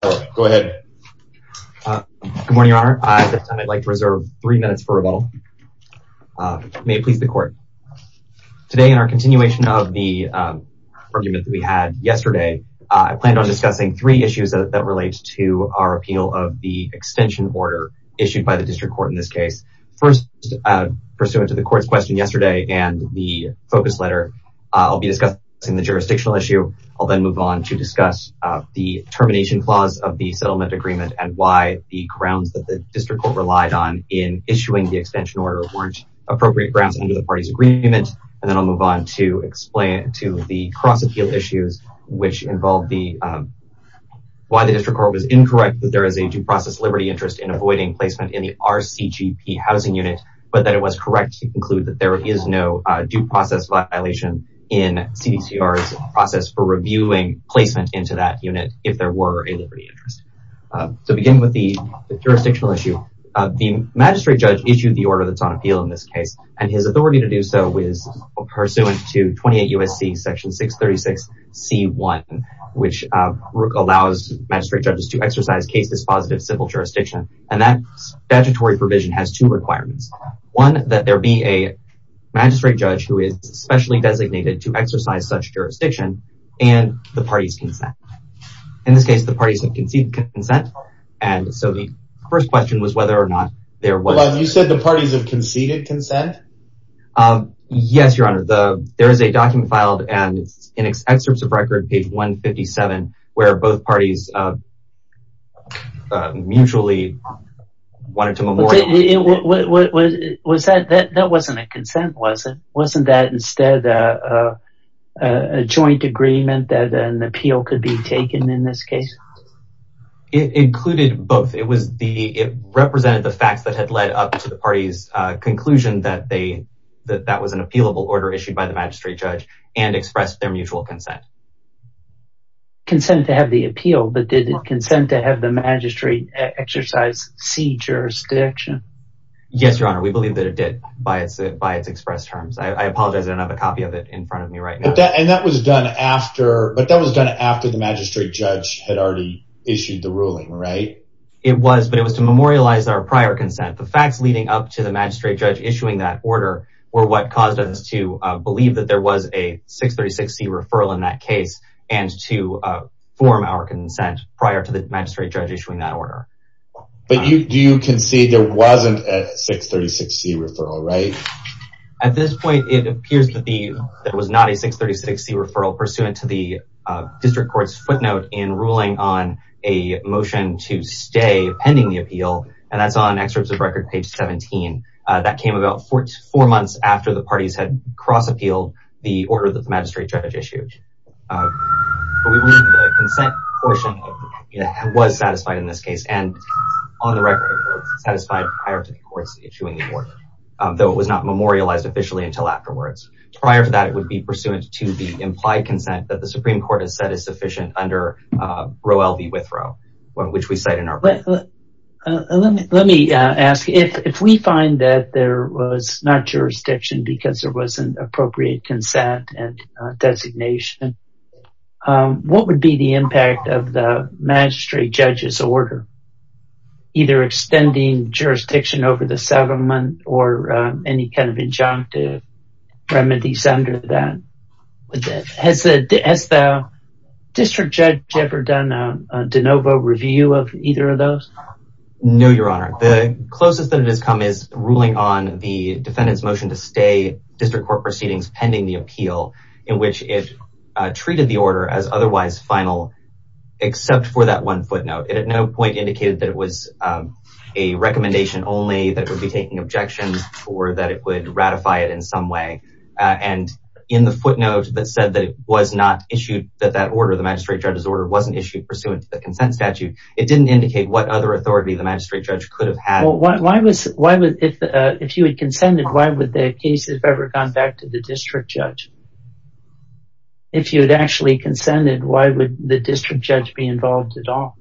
Good morning, Your Honor. At this time, I'd like to reserve three minutes for rebuttal. May it please the Court. Today, in our continuation of the argument that we had yesterday, I plan on discussing three issues that relate to our appeal of the extension order issued by the District Court in this case. First, pursuant to the Court's question yesterday and the focus letter, I'll be discussing the jurisdictional issue. I'll then move on to discuss the termination clause of the settlement agreement and why the grounds that the District Court relied on in issuing the extension order weren't appropriate grounds under the party's agreement. And then I'll move on to explain to the cross-appeal issues, which involved the, why the District Court was incorrect that there is a due process liberty interest in avoiding placement in the RCGP housing unit, but that it was correct to conclude that there is no due process violation in CDCR's process for reviewing placement into that unit if there were a liberty interest. So, beginning with the jurisdictional issue, the magistrate judge issued the order that's on appeal in this case, and his authority to do so is pursuant to 28 U.S.C. Section 636 C.1, which allows magistrate judges to exercise case dispositive civil jurisdiction, and that statutory provision has two requirements. One, that there be a magistrate judge who is specially designated to exercise such jurisdiction, and the party's consent. In this case, the parties have conceded consent, and so the first question was whether or not there was... Hold on, you said the parties have conceded consent? Yes, Your Honor. There is a document filed, and it's in excerpts of record, page 157, where both parties mutually wanted to memorialize... But that wasn't a consent, was it? Wasn't that instead a joint agreement that an appeal could be taken in this case? It included both. It represented the facts that had led up to the party's conclusion that that was an appealable order issued by the magistrate judge, and expressed their mutual consent. Consent to have the appeal, but did it consent to have the magistrate exercise C. jurisdiction? Yes, Your Honor, we believe that it did, by its expressed terms. I apologize, I don't have a copy of it in front of me right now. But that was done after the magistrate judge had already issued the ruling, right? It was, but it was to memorialize our prior consent. The facts leading up to the magistrate judge issuing that order were what caused us to believe that there was a 636 C.1 referral in that case, and to form our consent prior to the magistrate judge issuing that order. But do you concede there wasn't a 636 C.1 referral, right? At this point, it appears that there was not a 636 C.1 referral pursuant to the district court's footnote in ruling on a motion to stay pending the appeal, and that's on excerpts of record, page 17. That came about four months after the parties had cross-appealed the order that the magistrate judge issued. But we believe the consent portion was satisfied in this case, and on the record, it was satisfied prior to the courts issuing the order, though it was not memorialized officially until afterwards. Prior to that, it would be pursuant to the implied consent that the Supreme Court has said is sufficient under Rowell v. Withrow, which we cite in our ruling. Let me ask, if we find that there was not jurisdiction because there wasn't appropriate consent and designation, what would be the impact of the magistrate judge's order? Either extending jurisdiction over the settlement or any kind of injunctive remedies under that? Has the district judge ever done a de novo review of either of those? No, Your Honor. The closest that it has come is ruling on the defendant's motion to stay pending the appeal, in which it treated the order as otherwise final, except for that one footnote. It at no point indicated that it was a recommendation only, that it would be taking objections, or that it would ratify it in some way. And in the footnote that said that it was not issued, that that order, the magistrate judge's order, wasn't issued pursuant to the consent statute, it didn't indicate what other authority the magistrate judge could have had. If you had consented, why would the case have ever gone back to the district judge? If you had actually consented, why would the district judge be involved at all?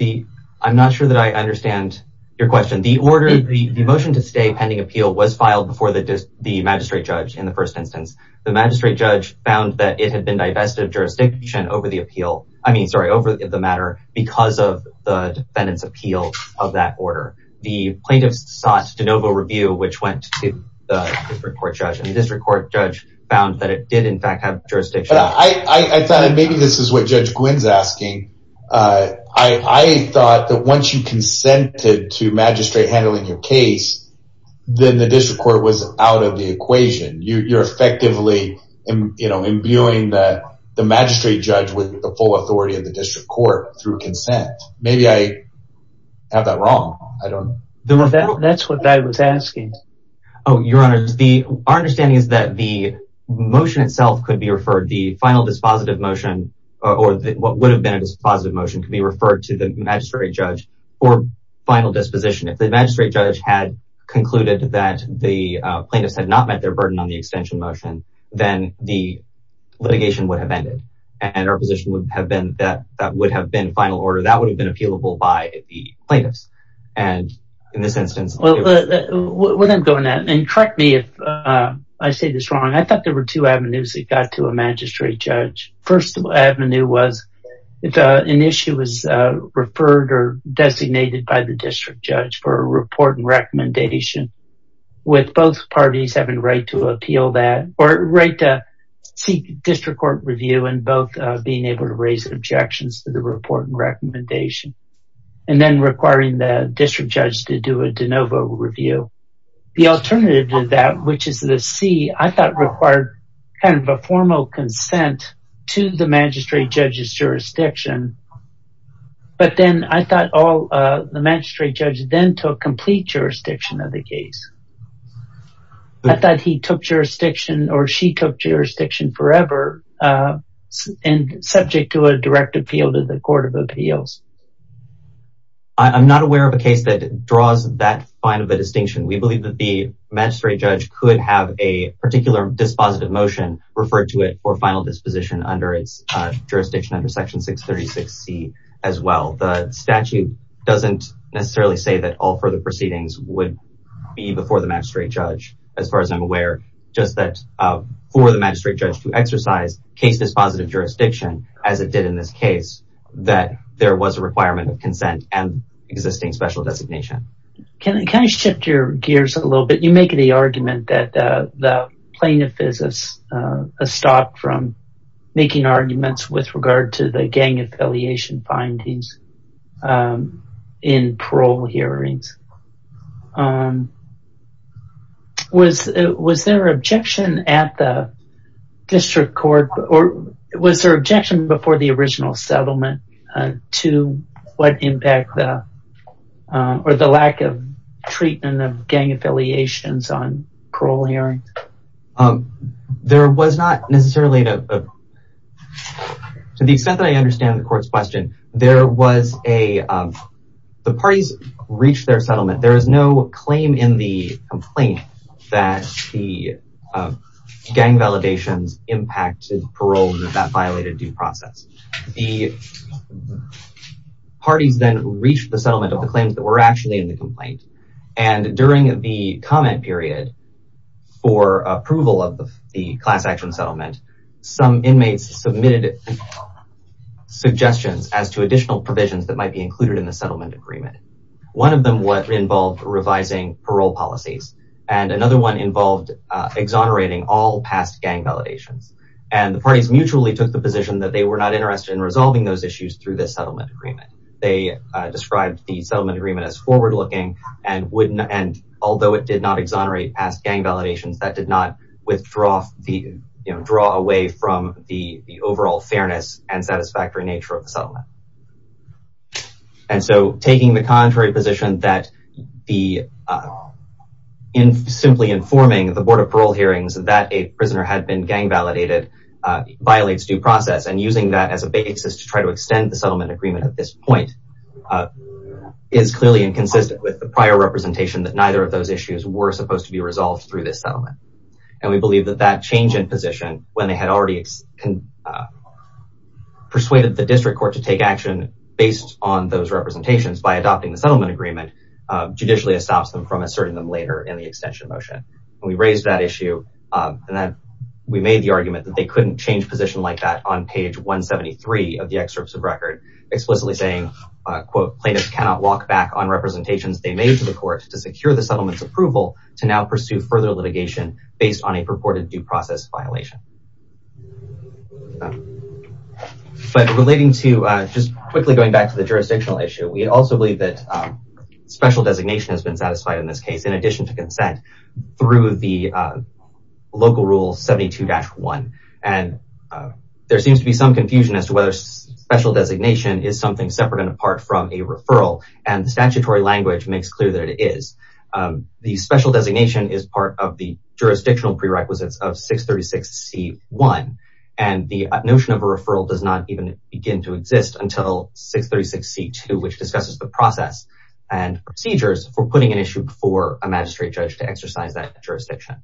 I'm not sure that I understand your question. The order, the motion to stay pending appeal, was filed before the magistrate judge in the first instance. The magistrate judge found that it had been divested of jurisdiction over the appeal, I mean, sorry, over the matter, because of the defendant's appeal of that order. The plaintiffs sought de novo review, which went to the district court judge, and the district court judge found that it did in fact have jurisdiction. I thought, and maybe this is what Judge Gwynne's asking, I thought that once you consented to magistrate handling your case, then the district court was out of the equation. You're effectively imbuing the magistrate judge with the full authority of the district court through consent. Maybe I have that wrong. I don't know. That's what I was asking. Your Honor, our understanding is that the motion itself could be referred, the final dispositive motion, or what would have been a dispositive motion, could be referred to the magistrate judge for final disposition. If the magistrate judge had concluded that the plaintiffs had not met their burden on the extension motion, then the litigation would have ended. And our position would have been that that would have been final order, that would have been appealable by the plaintiffs. And in this instance... Well, without going there, and correct me if I say this wrong, I thought there were two avenues that got to a magistrate judge. First avenue was if an issue was referred or designated by the district judge for a report and recommendation, with both parties having the right to appeal that, or the right to seek district court review, and both being able to raise objections to the report and recommendation, and then requiring the district judge to do a de novo review. The alternative to that, which is the C, I thought required kind of a formal consent to the magistrate judge's jurisdiction. But then I thought the magistrate judge then took complete jurisdiction of the case. I thought he took jurisdiction, or she took jurisdiction forever, and subject to a direct appeal to the court of appeals. I'm not aware of a case that draws that fine of a distinction. We believe that the magistrate judge could have a particular dispositive motion referred to it for final disposition under its jurisdiction under Section 636C as well. The statute doesn't necessarily say that all further proceedings would be before the magistrate judge, as far as I'm aware. Just that for the magistrate judge to exercise case dispositive jurisdiction, as it did in this case, that there was a requirement of consent and existing special designation. Can I shift your gears a little bit? You make the argument that the plaintiff is a stop from making arguments with regard to the gang affiliation findings in parole hearings. Was there objection at the district court, or was there objection before the original settlement to what impact or the lack of treatment of gang affiliations on parole hearings? There was not necessarily, to the extent that I understand the court's question, the parties reached their settlement. There is no claim in the complaint that the gang validations impacted parole and that violated due process. The parties then reached the settlement of the claims that were actually in the complaint, and during the comment period for approval of the class action settlement, some inmates submitted suggestions as to additional provisions that might be included in the settlement agreement. One of them involved revising parole policies, and another one involved exonerating all past gang validations. The parties mutually took the position that they were not interested in resolving those issues through this settlement agreement. They described the settlement agreement as forward-looking, and although it did not exonerate past gang validations, that did not withdraw away from the overall fairness and satisfactory nature of the settlement. Taking the contrary position that simply informing the Board of Parole hearings that a prisoner had been gang validated violates due process, and using that as a basis to try to extend the settlement agreement at this point is clearly inconsistent with the prior representation that neither of those issues were supposed to be resolved through this settlement. We believe that that change in position, when they had already persuaded the district court to take action based on those representations by adopting the settlement agreement, judicially stops them from asserting them later in the extension motion. We raised that issue, and then we made the argument that they couldn't change position like that on page 173 of the excerpts of record, explicitly saying, quote, plaintiffs cannot walk back on representations they made to the court to secure the settlement's approval to now pursue further litigation based on a purported due process violation. But relating to, just quickly going back to the jurisdictional issue, we also believe that special designation has been satisfied in this case, in addition to consent, through the local rule 72-1. And there seems to be some confusion as to whether special designation is something separate and apart from a referral, and the statutory language makes clear that it is. The special designation is part of the jurisdictional prerequisites of 636-C-1, and the notion of a referral does not even begin to exist until 636-C-2, which discusses the process and procedures for putting an issue before a magistrate judge to exercise that jurisdiction.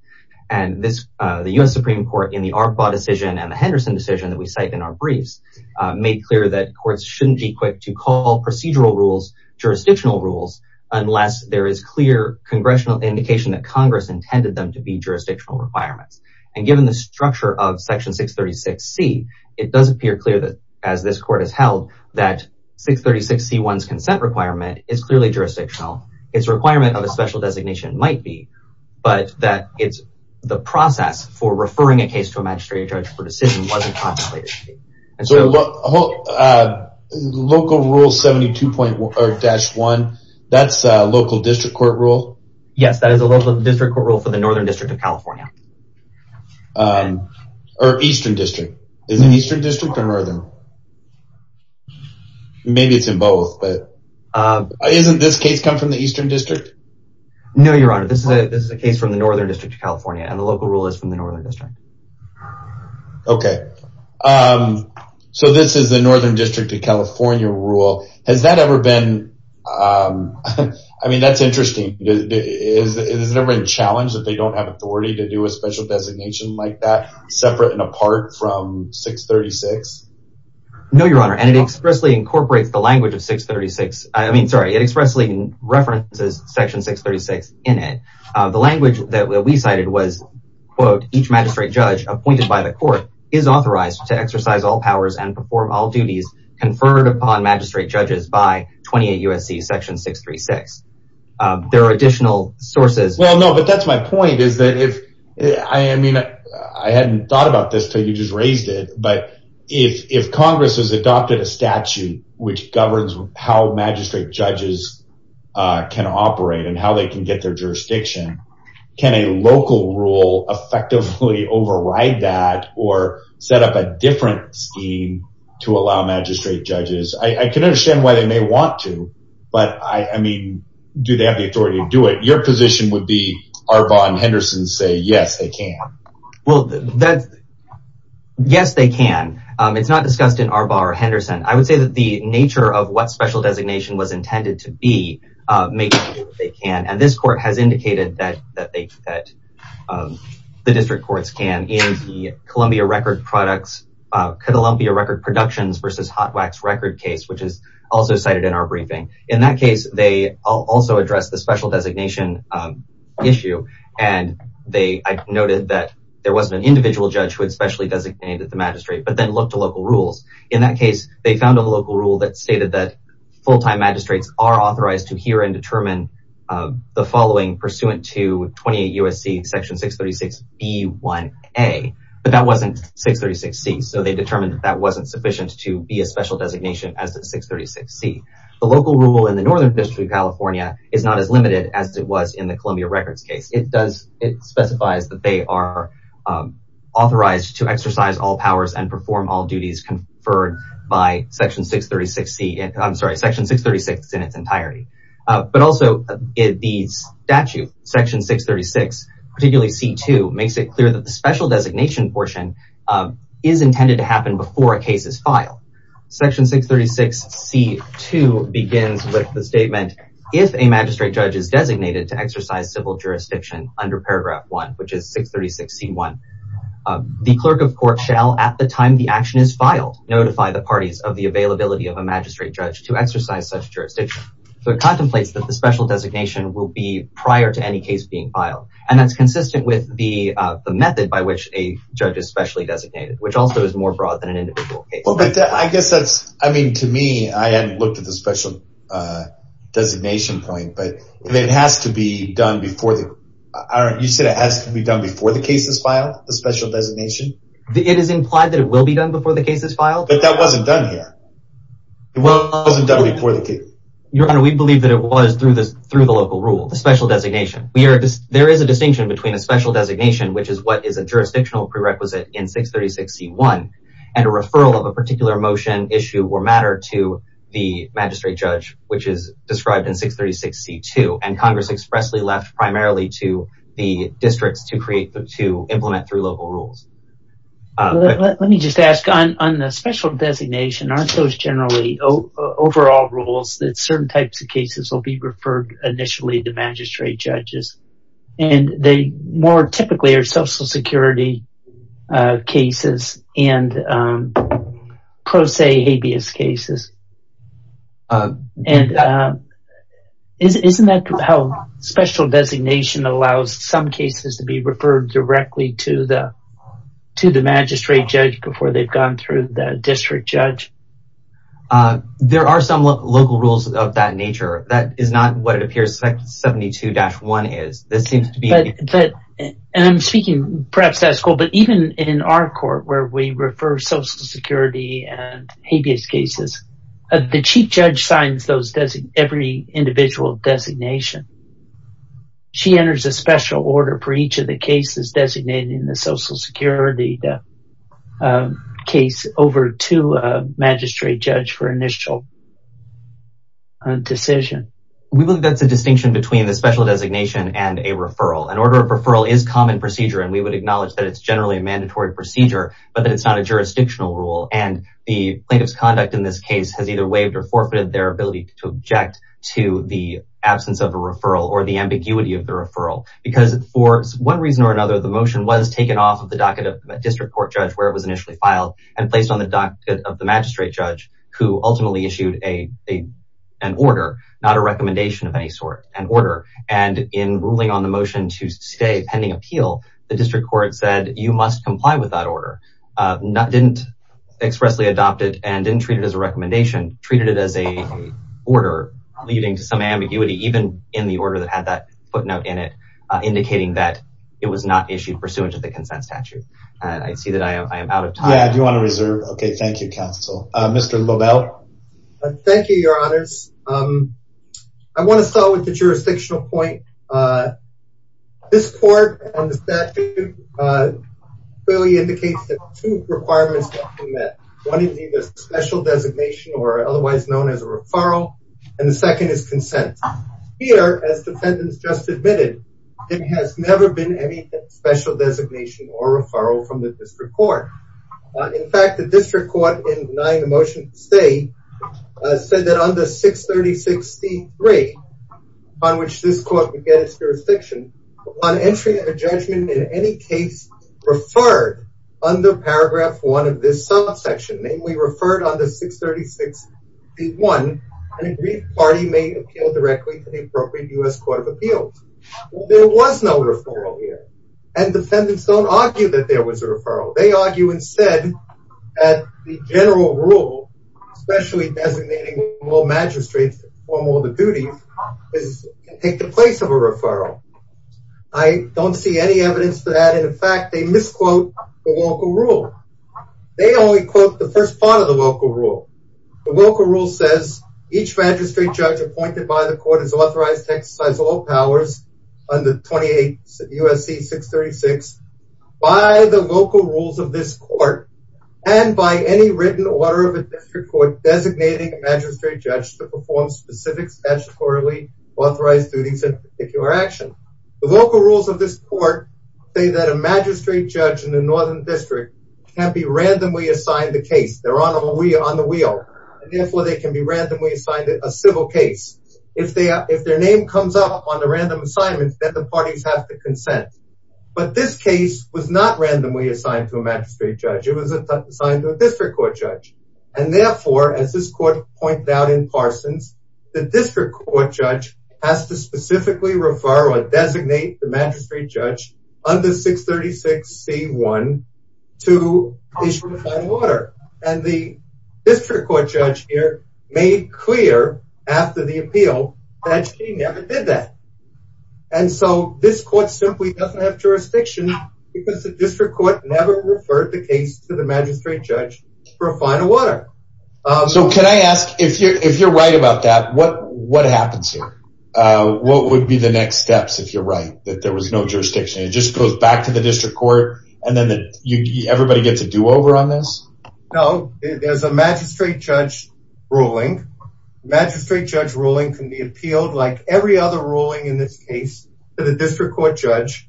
And the US Supreme Court, in the ARPA decision and the Henderson decision that we cite in our briefs, made clear that courts shouldn't be quick to call procedural rules jurisdictional rules unless there is clear congressional indication that Congress intended them to be jurisdictional requirements. And given the structure of Section 636-C, it does appear clear that, as this court has held, that 636-C-1's consent requirement is clearly jurisdictional. Its requirement of a special designation might be, but that it's the process for referring a case to a magistrate judge for decision wasn't contemplated. So, local rule 72-1, that's a local district court rule? Yes, that is a local district court rule for the Northern District of California. Or Eastern District. Is it Eastern District or Northern? Maybe it's in both, but isn't this case come from the Eastern District? No, Your Honor, this is a case from the Northern District of California, and the local rule is from the Northern District. Okay. So this is the Northern District of California rule. Has that ever been... I mean, that's interesting. Has it ever been challenged that they don't have authority to do a special designation like that, separate and apart from 636? No, Your Honor, and it expressly incorporates the language of 636. I mean, sorry, it expressly references Section 636 in it. The language that we cited was, quote, each magistrate judge appointed by the court is authorized to exercise all powers and perform all duties conferred upon magistrate judges by 28 U.S.C. Section 636. There are additional sources... Well, no, but that's my point, is that if... I mean, I hadn't thought about this until you just raised it, but if Congress has adopted a statute which governs how magistrate judges can operate and how they can get their jurisdiction, can a local rule effectively override that or set up a different scheme to allow magistrate judges... I can understand why they may want to, but, I mean, do they have the authority to do it? Your position would be Arbaugh and Henderson say, yes, they can. Well, that's... Yes, they can. It's not discussed in Arbaugh or Henderson. I would say that the nature of what special designation was intended to be is to make sure that they can, and this court has indicated that the district courts can in the Columbia Record Productions v. Hot Wax Record case, which is also cited in our briefing. In that case, they also addressed the special designation issue, and I noted that there wasn't an individual judge who had specially designated the magistrate, but then looked to local rules. In that case, they found a local rule that stated that full-time magistrates are authorized to hear and determine the following pursuant to 28 U.S.C. Section 636b1a, but that wasn't 636c, so they determined that that wasn't sufficient to be a special designation as a 636c. The local rule in the Northern District of California is not as limited as it was in the Columbia Records case. It specifies that they are authorized to exercise all powers and perform all duties conferred by Section 636 in its entirety, but also the statute, Section 636, particularly c.2, makes it clear that the special designation portion is intended to happen before a case is filed. Section 636c.2 begins with the statement, if a magistrate judge is designated to exercise civil jurisdiction under paragraph 1, which is 636c.1, the clerk of court shall, at the time the action is filed, notify the parties of the availability of a magistrate judge to exercise such jurisdiction. So it contemplates that the special designation will be prior to any case being filed, and that's consistent with the method by which a judge is specially designated, which also is more broad than an individual case. Well, but I guess that's, I mean, to me, I hadn't looked at the special designation point, but it has to be done before the, you said it has to be done before the case is filed, the special designation? It is implied that it will be done before the case is filed. But that wasn't done here. It wasn't done before the case. Your Honor, we believe that it was through the local rule, the special designation. There is a distinction between a special designation, which is what is a jurisdictional prerequisite in 636c.1, and a referral of a particular motion, issue, or matter to the magistrate judge, which is described in 636c.2, and Congress expressly left primarily to the districts to create, to implement through local rules. Let me just ask, on the special designation, aren't those generally overall rules that certain types of cases will be referred initially to magistrate judges? And they more typically are Social Security cases and pro se habeas cases. And isn't that how special designation allows some cases to be referred directly to the magistrate judge before they've gone through the district judge? There are some local rules of that nature. That is not what it appears 672-1 is. And I'm speaking, perhaps that's cool, but even in our court where we refer Social Security and habeas cases, the chief judge signs those, every individual designation. She enters a special order for each of the cases designated in the Social Security case over to a magistrate judge for initial decision. We believe that's a distinction between the special designation and a referral. An order of referral is common procedure, and we would acknowledge that it's generally a mandatory procedure, but that it's not a jurisdictional rule. And the plaintiff's conduct in this case has either waived or forfeited their ability to object to the absence of a referral or the ambiguity of the referral. Because for one reason or another, the motion was taken off of the docket of a district court judge where it was initially filed and placed on the docket of the magistrate judge who ultimately issued an order, not a recommendation of any sort, an order. And in ruling on the motion to stay pending appeal, the district court said, you must comply with that order. Didn't expressly adopt it and didn't treat it as a recommendation, treated it as a order leading to some ambiguity, even in the order that had that footnote in it, indicating that it was not issued pursuant to the consent statute. I see that I am out of time. Yeah, I do want to reserve. Okay, thank you, counsel. Mr. Lobel. Thank you, your honors. I want to start with the jurisdictional point. This court and the statute clearly indicates that two requirements have been met. One is either special designation or otherwise known as a referral, and the second is consent. Here, as defendants just admitted, there has never been any special designation or referral from the district court. In fact, the district court, in denying the motion to stay, said that under 630.63, on which this court would get its jurisdiction, on entry of a judgment in any case referred under paragraph 1 of this subsection, namely referred under 630.61, an agreed party may appeal directly to the appropriate U.S. Court of Appeals. There was no referral here, and defendants don't argue that there was a referral. They argue instead that the general rule, especially designating magistrates to perform all the duties, is to take the place of a referral. I don't see any evidence for that. In fact, they misquote the local rule. They only quote the first part of the local rule. The local rule says, each magistrate judge appointed by the court is authorized to exercise all powers under 28 U.S.C. 636 by the local rules of this court and by any written order of a district court designating a magistrate judge to perform specific statutorily authorized duties in a particular action. The local rules of this court say that a magistrate judge in a northern district can be randomly assigned a case. They're on the wheel. Therefore, they can be randomly assigned a civil case. If their name comes up on a random assignment, then the parties have to consent. But this case was not randomly assigned to a magistrate judge. It was assigned to a district court judge. And therefore, as this court pointed out in Parsons, the district court judge has to specifically refer or designate the magistrate judge under 636C1 to issue a final order. And the district court judge here made clear, after the appeal, that she never did that. And so this court simply doesn't have jurisdiction because the district court never referred the case to the magistrate judge for a final order. So can I ask, if you're right about that, what happens here? What would be the next steps, if you're right, that there was no jurisdiction? It just goes back to the district court, and then everybody gets a do-over on this? No, there's a magistrate judge ruling. The magistrate judge ruling can be appealed like every other ruling in this case to the district court judge.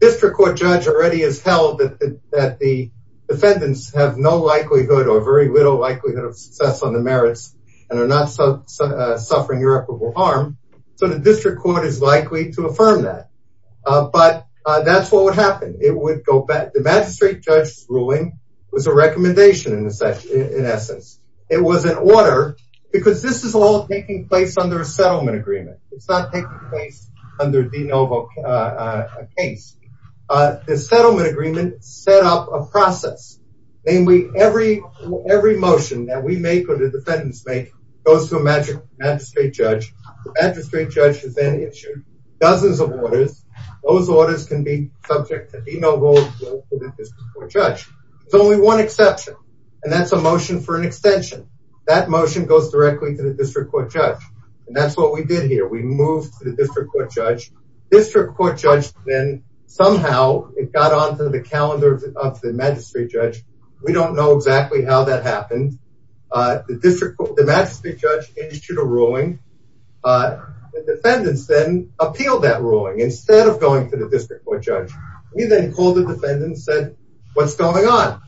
District court judge already has held that the defendants have no likelihood or very little likelihood of success on the merits and are not suffering irreparable harm. So the district court is likely to affirm that. But that's what would happen. It would go back. The magistrate judge's ruling was a recommendation, in essence. It was an order because this is all taking place under a settlement agreement. It's not taking place under de novo case. The settlement agreement set up a process. Namely, every motion that we make or the defendants make goes to a magistrate judge. The magistrate judge has then issued dozens of orders. Those orders can be subject to de novo to the district court judge. There's only one exception, and that's a motion for an extension. That motion goes directly to the district court judge. And that's what we did here. We moved to the district court judge. District court judge then somehow, it got onto the calendar of the magistrate judge. We don't know exactly how that happened. The magistrate judge issued a ruling. The defendants then appealed that ruling instead of going to the district court judge. We then called the defendants and said, what's going on?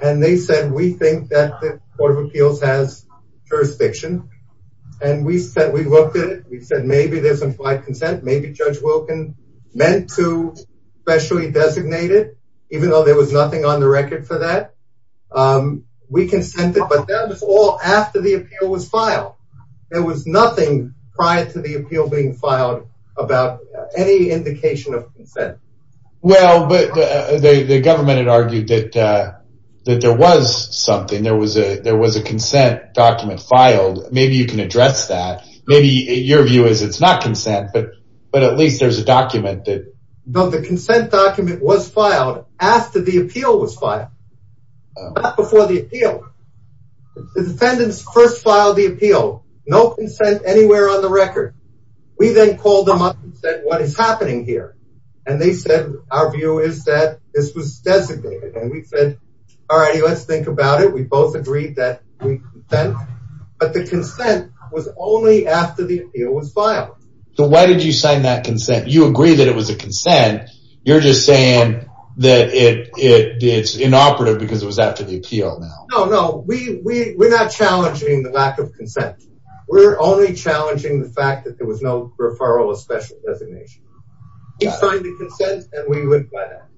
And they said, we think that the Court of Appeals has jurisdiction. And we said, we looked at it. We said, maybe there's implied consent. Maybe Judge Wilkin meant to specially designate it, even though there was nothing on the record for that. We consented, but that was all after the appeal was filed. There was nothing prior to the appeal being filed about any indication of consent. Well, but the government had argued that there was something. There was a consent document filed. Maybe you can address that. Maybe your view is it's not consent, but at least there's a document. No, the consent document was filed after the appeal was filed. Not before the appeal. The defendants first filed the appeal. No consent anywhere on the record. We then called them up and said, what is happening here? And they said, our view is that this was designated. And we said, all righty, let's think about it. We both agreed that we consent, but the consent was only after the appeal was filed. So why did you sign that consent? You agree that it was a consent. You're just saying that it's inoperative because it was after the appeal now. No, no, we're not challenging the lack of consent. We're only challenging the fact that there was no referral of special designation. We signed the consent, and we went by that.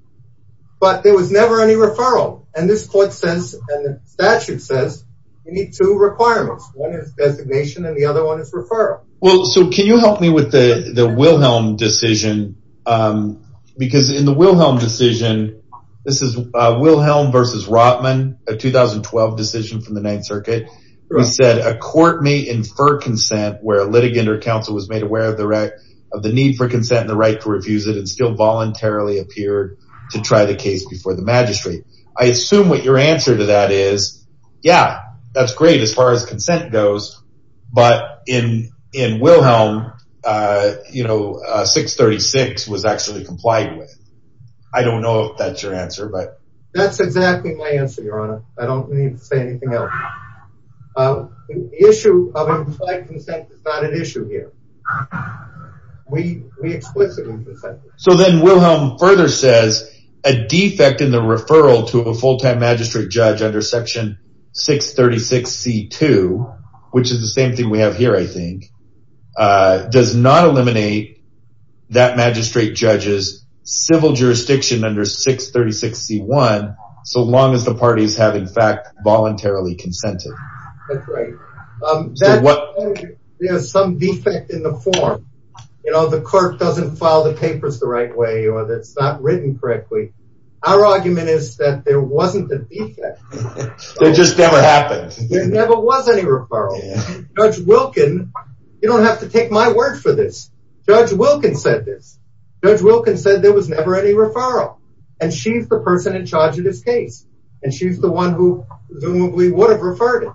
But there was never any referral. And this court says, and the statute says, you need two requirements. One is designation, and the other one is referral. Well, so can you help me with the Wilhelm decision? Because in the Wilhelm decision, this is Wilhelm versus Rotman, a 2012 decision from the Ninth Circuit. He said, a court may infer consent where a litigant or counsel was made aware of the need for consent and the right to refuse it and still voluntarily appeared to try the case before the magistrate. I assume what your answer to that is, yeah, that's great as far as consent goes, but in Wilhelm, you know, 636 was actually complied with. I don't know if that's your answer, but... That's exactly my answer, Your Honor. I don't need to say anything else. The issue of implied consent is not an issue here. We explicitly consent. So then Wilhelm further says, a defect in the referral to a full-time magistrate judge under section 636C2, which is the same thing we have here, I think, does not eliminate that magistrate judge's civil jurisdiction under 636C1, so long as the parties have, in fact, voluntarily consented. That's right. There's some defect in the form. You know, the court doesn't file the papers the right way or it's not written correctly. Our argument is that there wasn't a defect. It just never happened. There never was any referral. Judge Wilken, you don't have to take my word for this. Judge Wilken said this. Judge Wilken said there was never any referral, and she's the person in charge of this case, and she's the one who presumably would have referred it.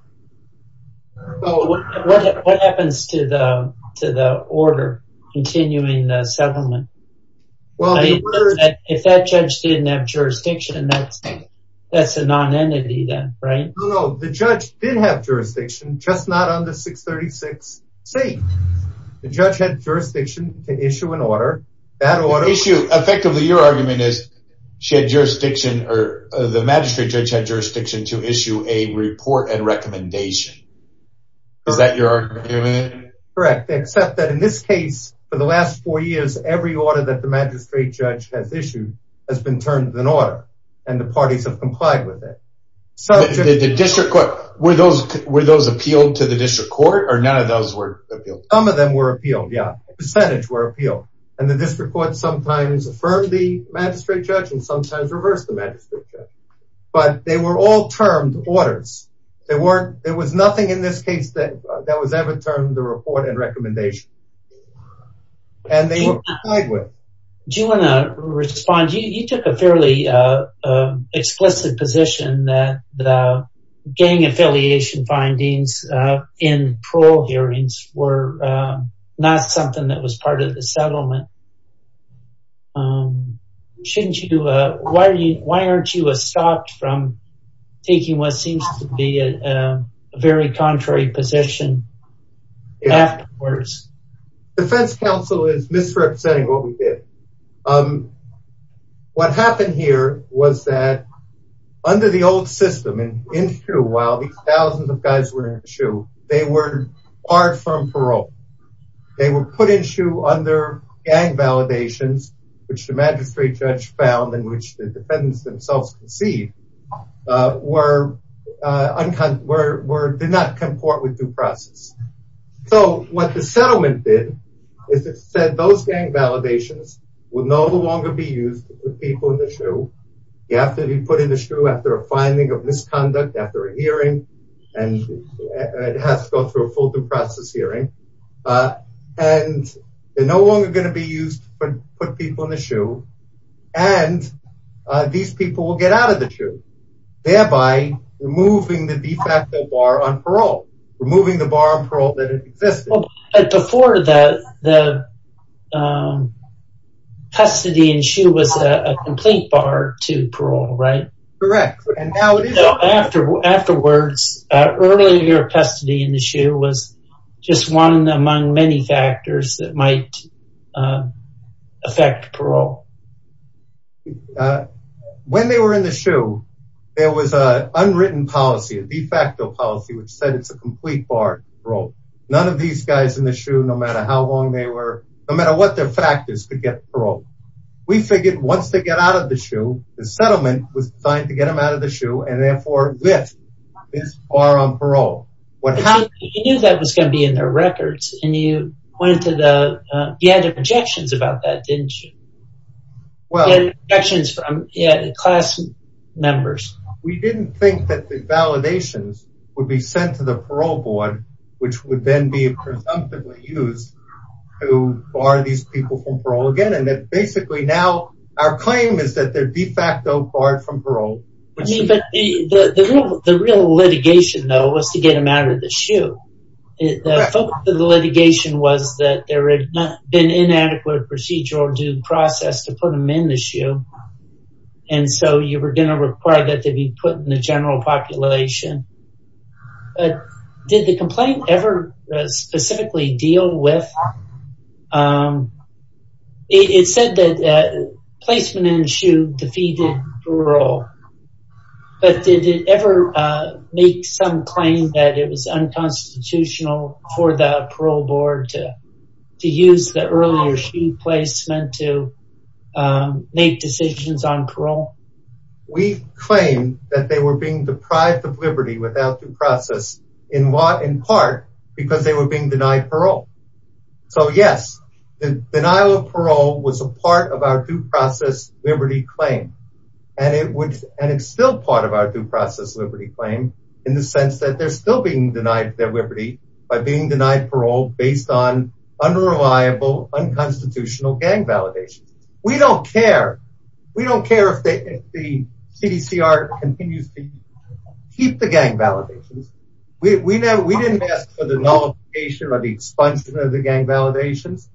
What happens to the order continuing the settlement? If that judge didn't have jurisdiction, that's a non-entity then, right? No, no, the judge did have jurisdiction, just not under 636C. The judge had jurisdiction to issue an order. Effectively, your argument is the magistrate judge had jurisdiction to issue a report and recommendation. Is that your argument? Correct, except that in this case, for the last four years, every order that the magistrate judge has issued has been termed an order, and the parties have complied with it. Were those appealed to the district court, or none of those were appealed? Some of them were appealed, yeah. A percentage were appealed, and the district court sometimes affirmed the magistrate judge and sometimes reversed the magistrate judge, but they were all termed orders. There was nothing in this case that was ever termed a report and recommendation, and they were complied with. Do you want to respond? You took a fairly explicit position that the gang affiliation findings in parole hearings were not something that was part of the settlement. Why aren't you stopped from taking what seems to be a very contrary position afterwards? Defense counsel is misrepresenting what we did. What happened here was that under the old system, in Hsu, while these thousands of guys were in Hsu, they were barred from parole. They were put in Hsu under gang validations, which the magistrate judge found and which the defendants themselves conceived did not comport with due process. So what the settlement did is it said those gang validations would no longer be used with people in the Hsu. You have to be put in the Hsu after a finding of misconduct, after a hearing, and it has to go through a full due process hearing, and they're no longer going to be used to put people in the Hsu, and these people will get out of the Hsu, thereby removing the de facto bar on parole, removing the bar on parole that existed. Before, the custody in Hsu was a complete bar to parole, right? Correct. Afterwards, earlier custody in the Hsu was just one among many factors that might affect parole. When they were in the Hsu, there was an unwritten policy, a de facto policy, which said it's a complete bar on parole. None of these guys in the Hsu, no matter how long they were, no matter what their factors, could get parole. We figured once they got out of the Hsu, the settlement was designed to get them out of the Hsu, and therefore lift this bar on parole. You knew that was going to be in their records, and you had objections about that, didn't you? Objections from class members. We didn't think that the validations would be sent to the parole board, which would then be presumptively used to bar these people from parole again, and that basically now our claim is that they're de facto barred from parole. The real litigation, though, was to get them out of the Hsu. The focus of the litigation was that there had been inadequate procedural due process to put them in the Hsu, and so you were going to require that they be put in the general population. Did the complaint ever specifically deal with... It said that placement in the Hsu defeated parole, but did it ever make some claim that it was unconstitutional for the parole board to use the earlier Hsu placement to make decisions on parole? We claim that they were being deprived of liberty without due process in part because they were being denied parole. So, yes, the denial of parole was a part of our due process liberty claim, and it's still part of our due process liberty claim in the sense that they're still being denied their liberty by being denied parole based on unreliable, unconstitutional gang validations. We don't care. We don't care if the CDCR continues to keep the gang validations. We didn't ask for the nullification or the expulsion of the gang validations.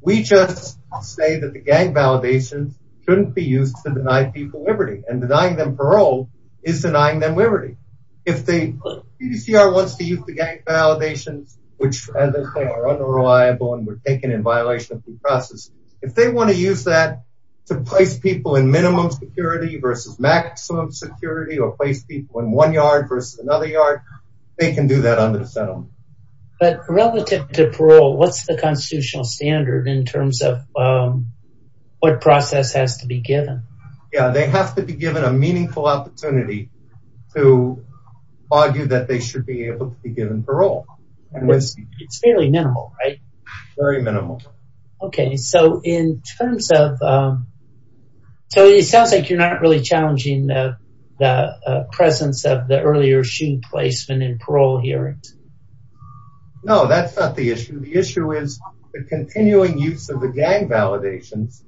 We just say that the gang validations shouldn't be used to deny people liberty, and denying them parole is denying them liberty. If the CDCR wants to use the gang validations, which, as I said, are unreliable and were taken in violation of due process, if they want to use that to place people in minimum security versus maximum security or place people in one yard versus another yard, they can do that under the settlement. But relative to parole, what's the constitutional standard in terms of what process has to be given? Yeah, they have to be given a meaningful opportunity to argue that they should be able to be given parole. It's fairly minimal, right? Very minimal. Okay, so in terms of... So it sounds like you're not really challenging the presence of the earlier shooting placement in parole hearings. No, that's not the issue. The issue is the continuing use of the gang validations,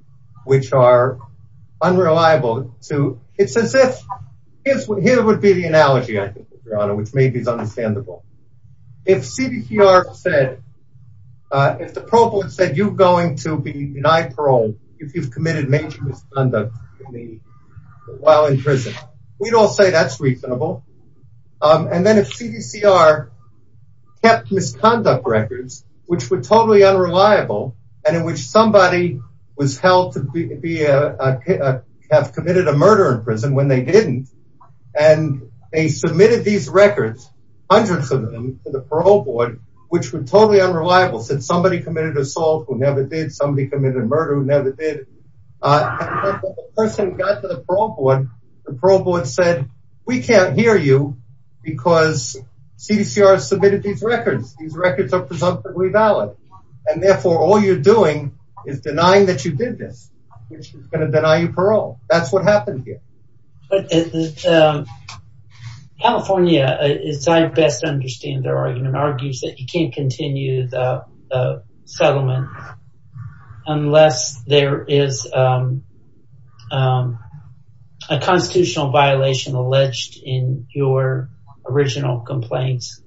which are unreliable to... It's as if... Here would be the analogy, I think, Your Honor, which maybe is understandable. If CDCR said... If the provost said, you're going to be denied parole if you've committed major misconduct while in prison, we'd all say that's reasonable. And then if CDCR kept misconduct records, which were totally unreliable, and in which somebody was held to be... have committed a murder in prison when they didn't, and they submitted these records, hundreds of them, to the parole board, which were totally unreliable, said somebody committed assault who never did, somebody committed murder who never did, and the person got to the parole board, and the parole board said, we can't hear you because CDCR submitted these records. These records are presumptively valid. And therefore, all you're doing is denying that you did this, which is going to deny you parole. That's what happened here. California, as I best understand their argument, argues that you can't continue the settlement unless there is a constitutional violation alleged in your original complaints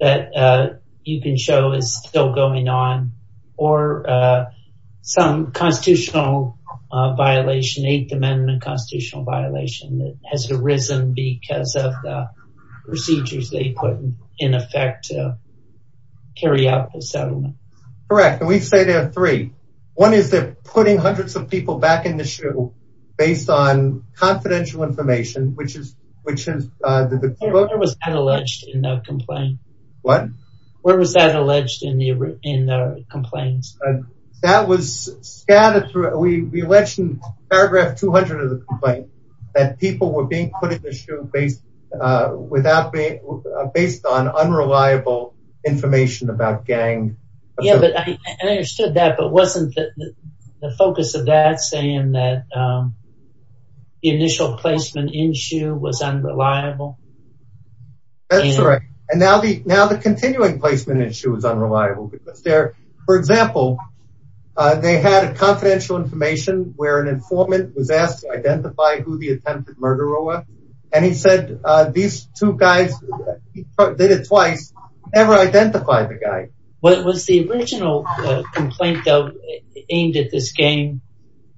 that you can show is still going on or some constitutional violation, Eighth Amendment constitutional violation that has arisen because of the procedures they put in effect to carry out the settlement. Correct, and we say there are three. One is they're putting hundreds of people back in the shoe based on confidential information, which is... Where was that alleged in that complaint? What? Where was that alleged in the complaints? That was scattered through... We allege in paragraph 200 of the complaint that people were being put in the shoe based on unreliable information about gangs. Yeah, but I understood that, but wasn't the focus of that saying that the initial placement in shoe was unreliable? That's right. And now the continuing placement in shoe is unreliable because there, for example, they had a confidential information where an informant was asked to identify who the attempted murderer was, and he said these two guys, they did it twice, never identified the guy. Was the original complaint, though, aimed at this gang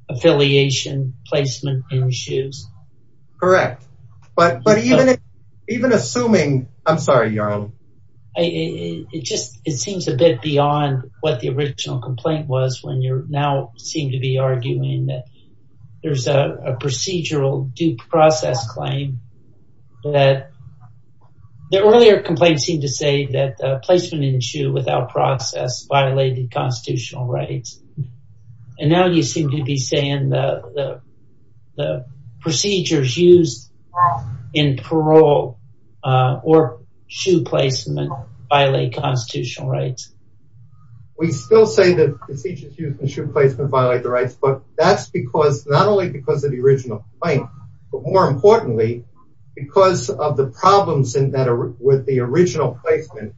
affiliation placement in shoes? Correct, but even assuming... I'm sorry, Yarl. It seems a bit beyond what the original complaint was when you now seem to be arguing that there's a procedural due process claim that... The earlier complaint seemed to say that placement in shoe without process violated constitutional rights, and now you seem to be saying the procedures used in parole or shoe placement violate constitutional rights. We still say that procedures used in shoe placement violate the rights, but that's because... Not only because of the original complaint, but more importantly, because of the problems with the original placement,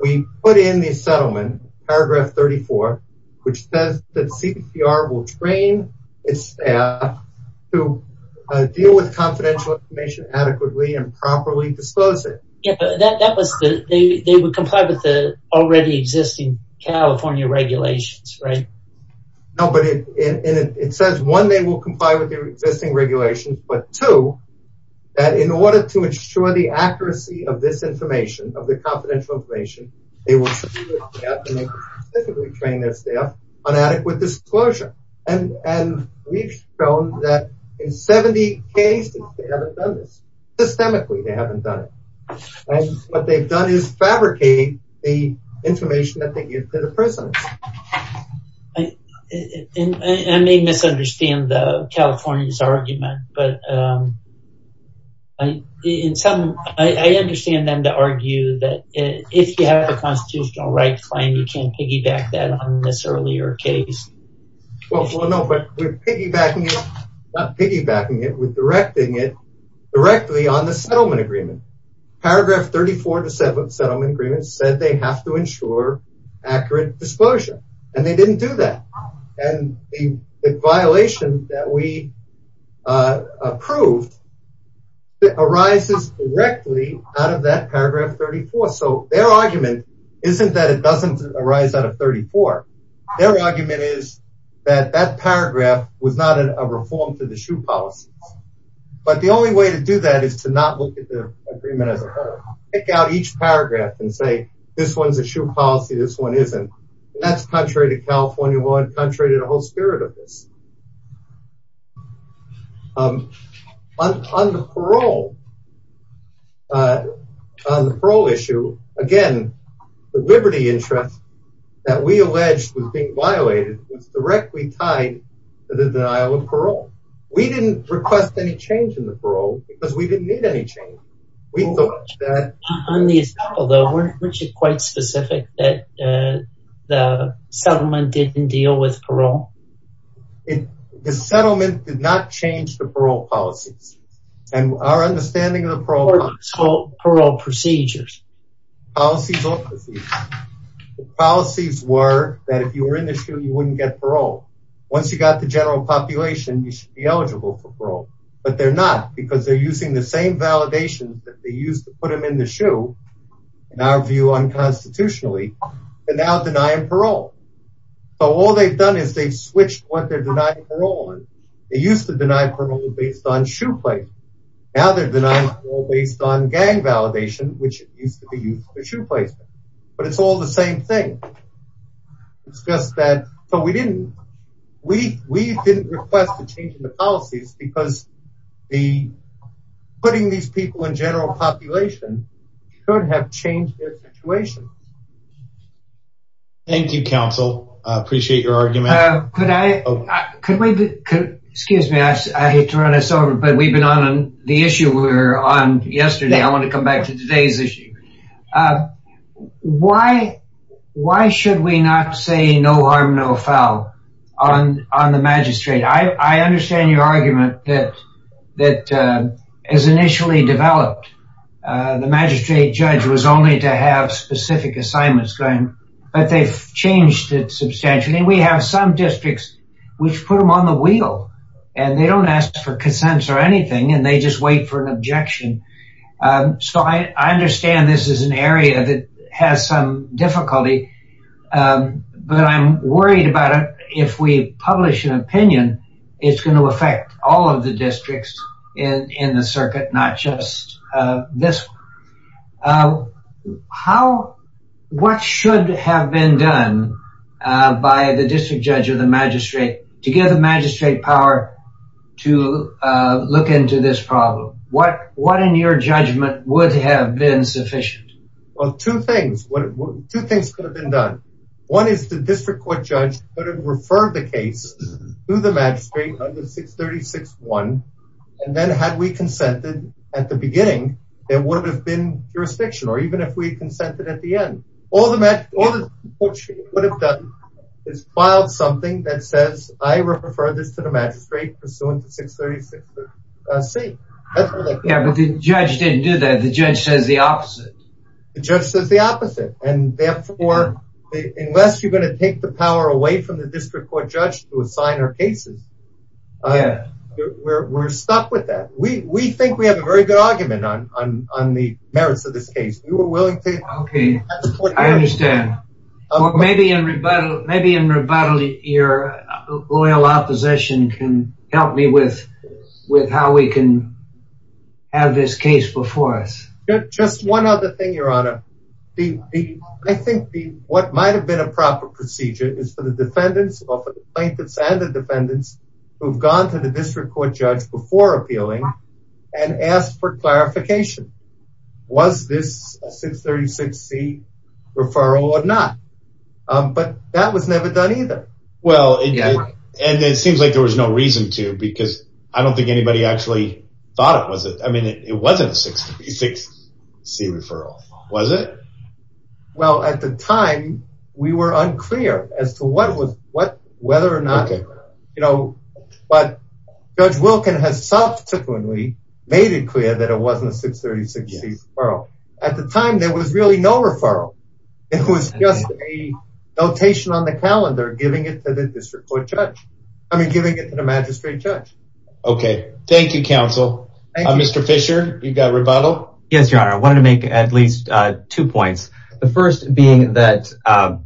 we put in the settlement, paragraph 34, which says that CPR will train its staff to deal with confidential information adequately and properly dispose it. Yeah, but that was the... They would comply with the already existing California regulations, right? No, but it says, one, they will comply with the existing regulations, but two, that in order to ensure the accuracy of this information, of the confidential information, they will specifically train their staff on adequate disclosure. And we've shown that in 70 cases, they haven't done this. Systemically, they haven't done it. And what they've done is fabricate the information that they give to the prisoners. I may misunderstand the Californians' argument, but in some... I understand them to argue that if you have a constitutional right claim, you can't piggyback that on this earlier case. Well, no, but we're piggybacking it, not piggybacking it, we're directing it directly on the settlement agreement. Paragraph 34 of the settlement agreement said they have to ensure accurate disclosure, and they didn't do that. And the violation that we approved arises directly out of that paragraph 34. So their argument isn't that it doesn't arise out of 34. Their argument is that that paragraph was not a reform to the SHU policies. But the only way to do that is to not look at the agreement as a whole. Pick out each paragraph and say, this one's a SHU policy, this one isn't. That's contrary to California law and contrary to the whole spirit of this. On the parole... On the parole issue, again, the liberty interest that we alleged was being violated was directly tied to the denial of parole. We didn't request any change in the parole because we didn't need any change. On the estoppel, though, weren't you quite specific that the settlement didn't deal with parole? The settlement did not change the parole policies. And our understanding of the parole... Or parole procedures. Policies or procedures. The policies were that if you were in the SHU, you wouldn't get parole. Once you got the general population, you should be eligible for parole. But they're not because they're using the same validation that they used to put them in the SHU, in our view, unconstitutionally, they're now denying parole. So all they've done is they've switched what they're denying parole on. They used to deny parole based on SHU placement. Now they're denying parole based on gang validation, which used to be used for SHU placement. But it's all the same thing. It's just that... So we didn't... We didn't request a change in the policies because putting these people in general population could have changed their situation. Thank you, counsel. I appreciate your argument. Could I... Excuse me, I hate to run us over, but we've been on the issue we were on yesterday. I want to come back to today's issue. Why should we not say no harm, no foul on the magistrate? I understand your argument that, as initially developed, the magistrate judge was only to have specific assignments going, but they've changed it substantially. We have some districts which put them on the wheel, and they don't ask for consents or anything, and they just wait for an objection. So I understand this is an area that has some difficulty, but I'm worried about it. If we publish an opinion, it's going to affect all of the districts in the circuit, not just this one. How... What should have been done by the district judge or the magistrate to give the magistrate power to look into this problem? What, in your judgment, would have been sufficient? Well, two things. Two things could have been done. One is the district court judge could have referred the case to the magistrate under 636-1, and then had we consented at the beginning, there would have been jurisdiction, or even if we consented at the end. All the court should have done is filed something that says, I refer this to the magistrate pursuant to 636-C. Yeah, but the judge didn't do that. The judge says the opposite. The judge says the opposite, and therefore, unless you're going to take the power away from the district court judge to assign our cases, we're stuck with that. We think we have a very good argument on the merits of this case. We were willing to... Okay, I understand. Well, maybe in rebuttal, your loyal opposition can help me Just one other thing, Your Honor. I think what might have been a proper procedure is for the defendants or for the plaintiffs and the defendants who've gone to the district court judge before appealing and asked for clarification. Was this a 636-C referral or not? But that was never done either. Well, and it seems like there was no reason to because I don't think anybody actually thought it was. I mean, it wasn't a 636-C referral. Was it? Well, at the time, we were unclear as to whether or not... Okay. But Judge Wilkin has subsequently made it clear that it wasn't a 636-C referral. At the time, there was really no referral. It was just a notation on the calendar giving it to the district court judge. I mean, giving it to the magistrate judge. Okay, thank you, counsel. Mr. Fisher, you've got rebuttal? Yes, Your Honor. I wanted to make at least two points. The first being that our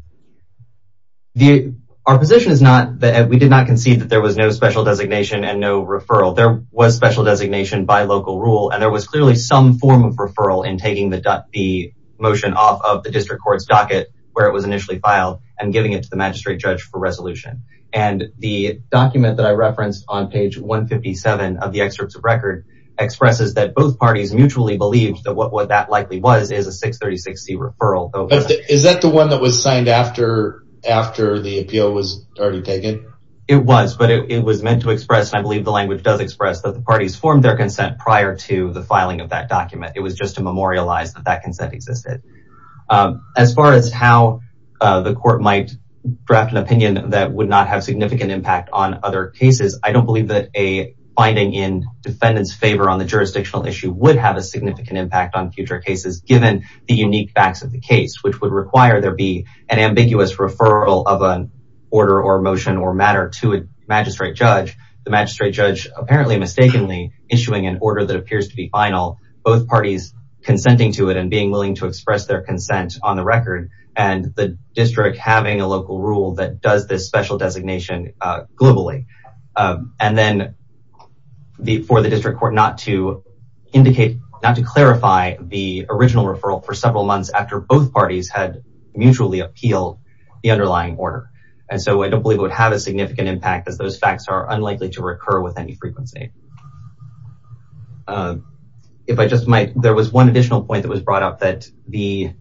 position is not that we did not concede that there was no special designation and no referral. There was special designation by local rule, and there was clearly some form of referral in taking the motion off of the district court's docket where it was initially filed and giving it to the magistrate judge for resolution. And the document that I referenced on page 157 of the excerpts of record expresses that both parties mutually believed that what that likely was is a 636-C referral. Is that the one that was signed after the appeal was already taken? It was, but it was meant to express, and I believe the language does express, that the parties formed their consent prior to the filing of that document. It was just to memorialize that that consent existed. As far as how the court might draft an opinion that would not have significant impact on other cases, I don't believe that a finding in defendant's favor on the jurisdictional issue would have a significant impact on future cases given the unique facts of the case, which would require there be an ambiguous referral of an order or motion or matter to a magistrate judge, the magistrate judge apparently mistakenly issuing an order that appears to be final, both parties consenting to it and being willing to express their consent on the record, and the district having a local rule that does this special designation globally. And then for the district court not to indicate, not to clarify the original referral for several months after both parties had mutually appealed the underlying order. And so I don't believe it would have a significant impact as those facts are unlikely to recur with any frequency. If I just might, there was one additional point that was brought up that the,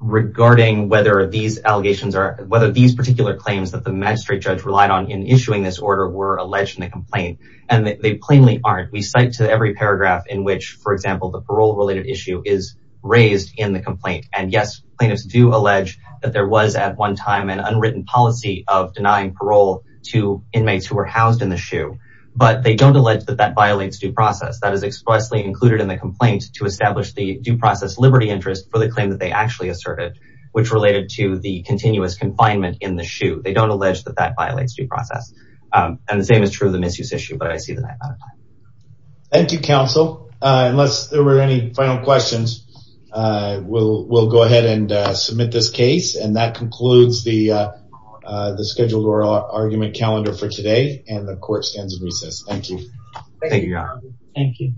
regarding whether these allegations are, whether these particular claims that the magistrate judge relied on in issuing this order were alleged in the complaint and they plainly aren't. We cite to every paragraph in which, for example, the parole related issue is raised in the complaint. And yes, plaintiffs do allege that there was at one time an unwritten policy of denying parole to inmates who were housed in the SHU, but they don't allege that that violates due process. That is expressly included in the complaint to establish the due process liberty interest for the claim that they actually asserted, which related to the continuous confinement in the SHU. They don't allege that that violates due process. And the same is true of the misuse issue, but I see the knife out of time. Thank you, counsel. Unless there were any final questions, we'll go ahead and submit this case. And that concludes the scheduled oral argument calendar for today and the court stands in recess. Thank you. Thank you, Your Honor. Thank you.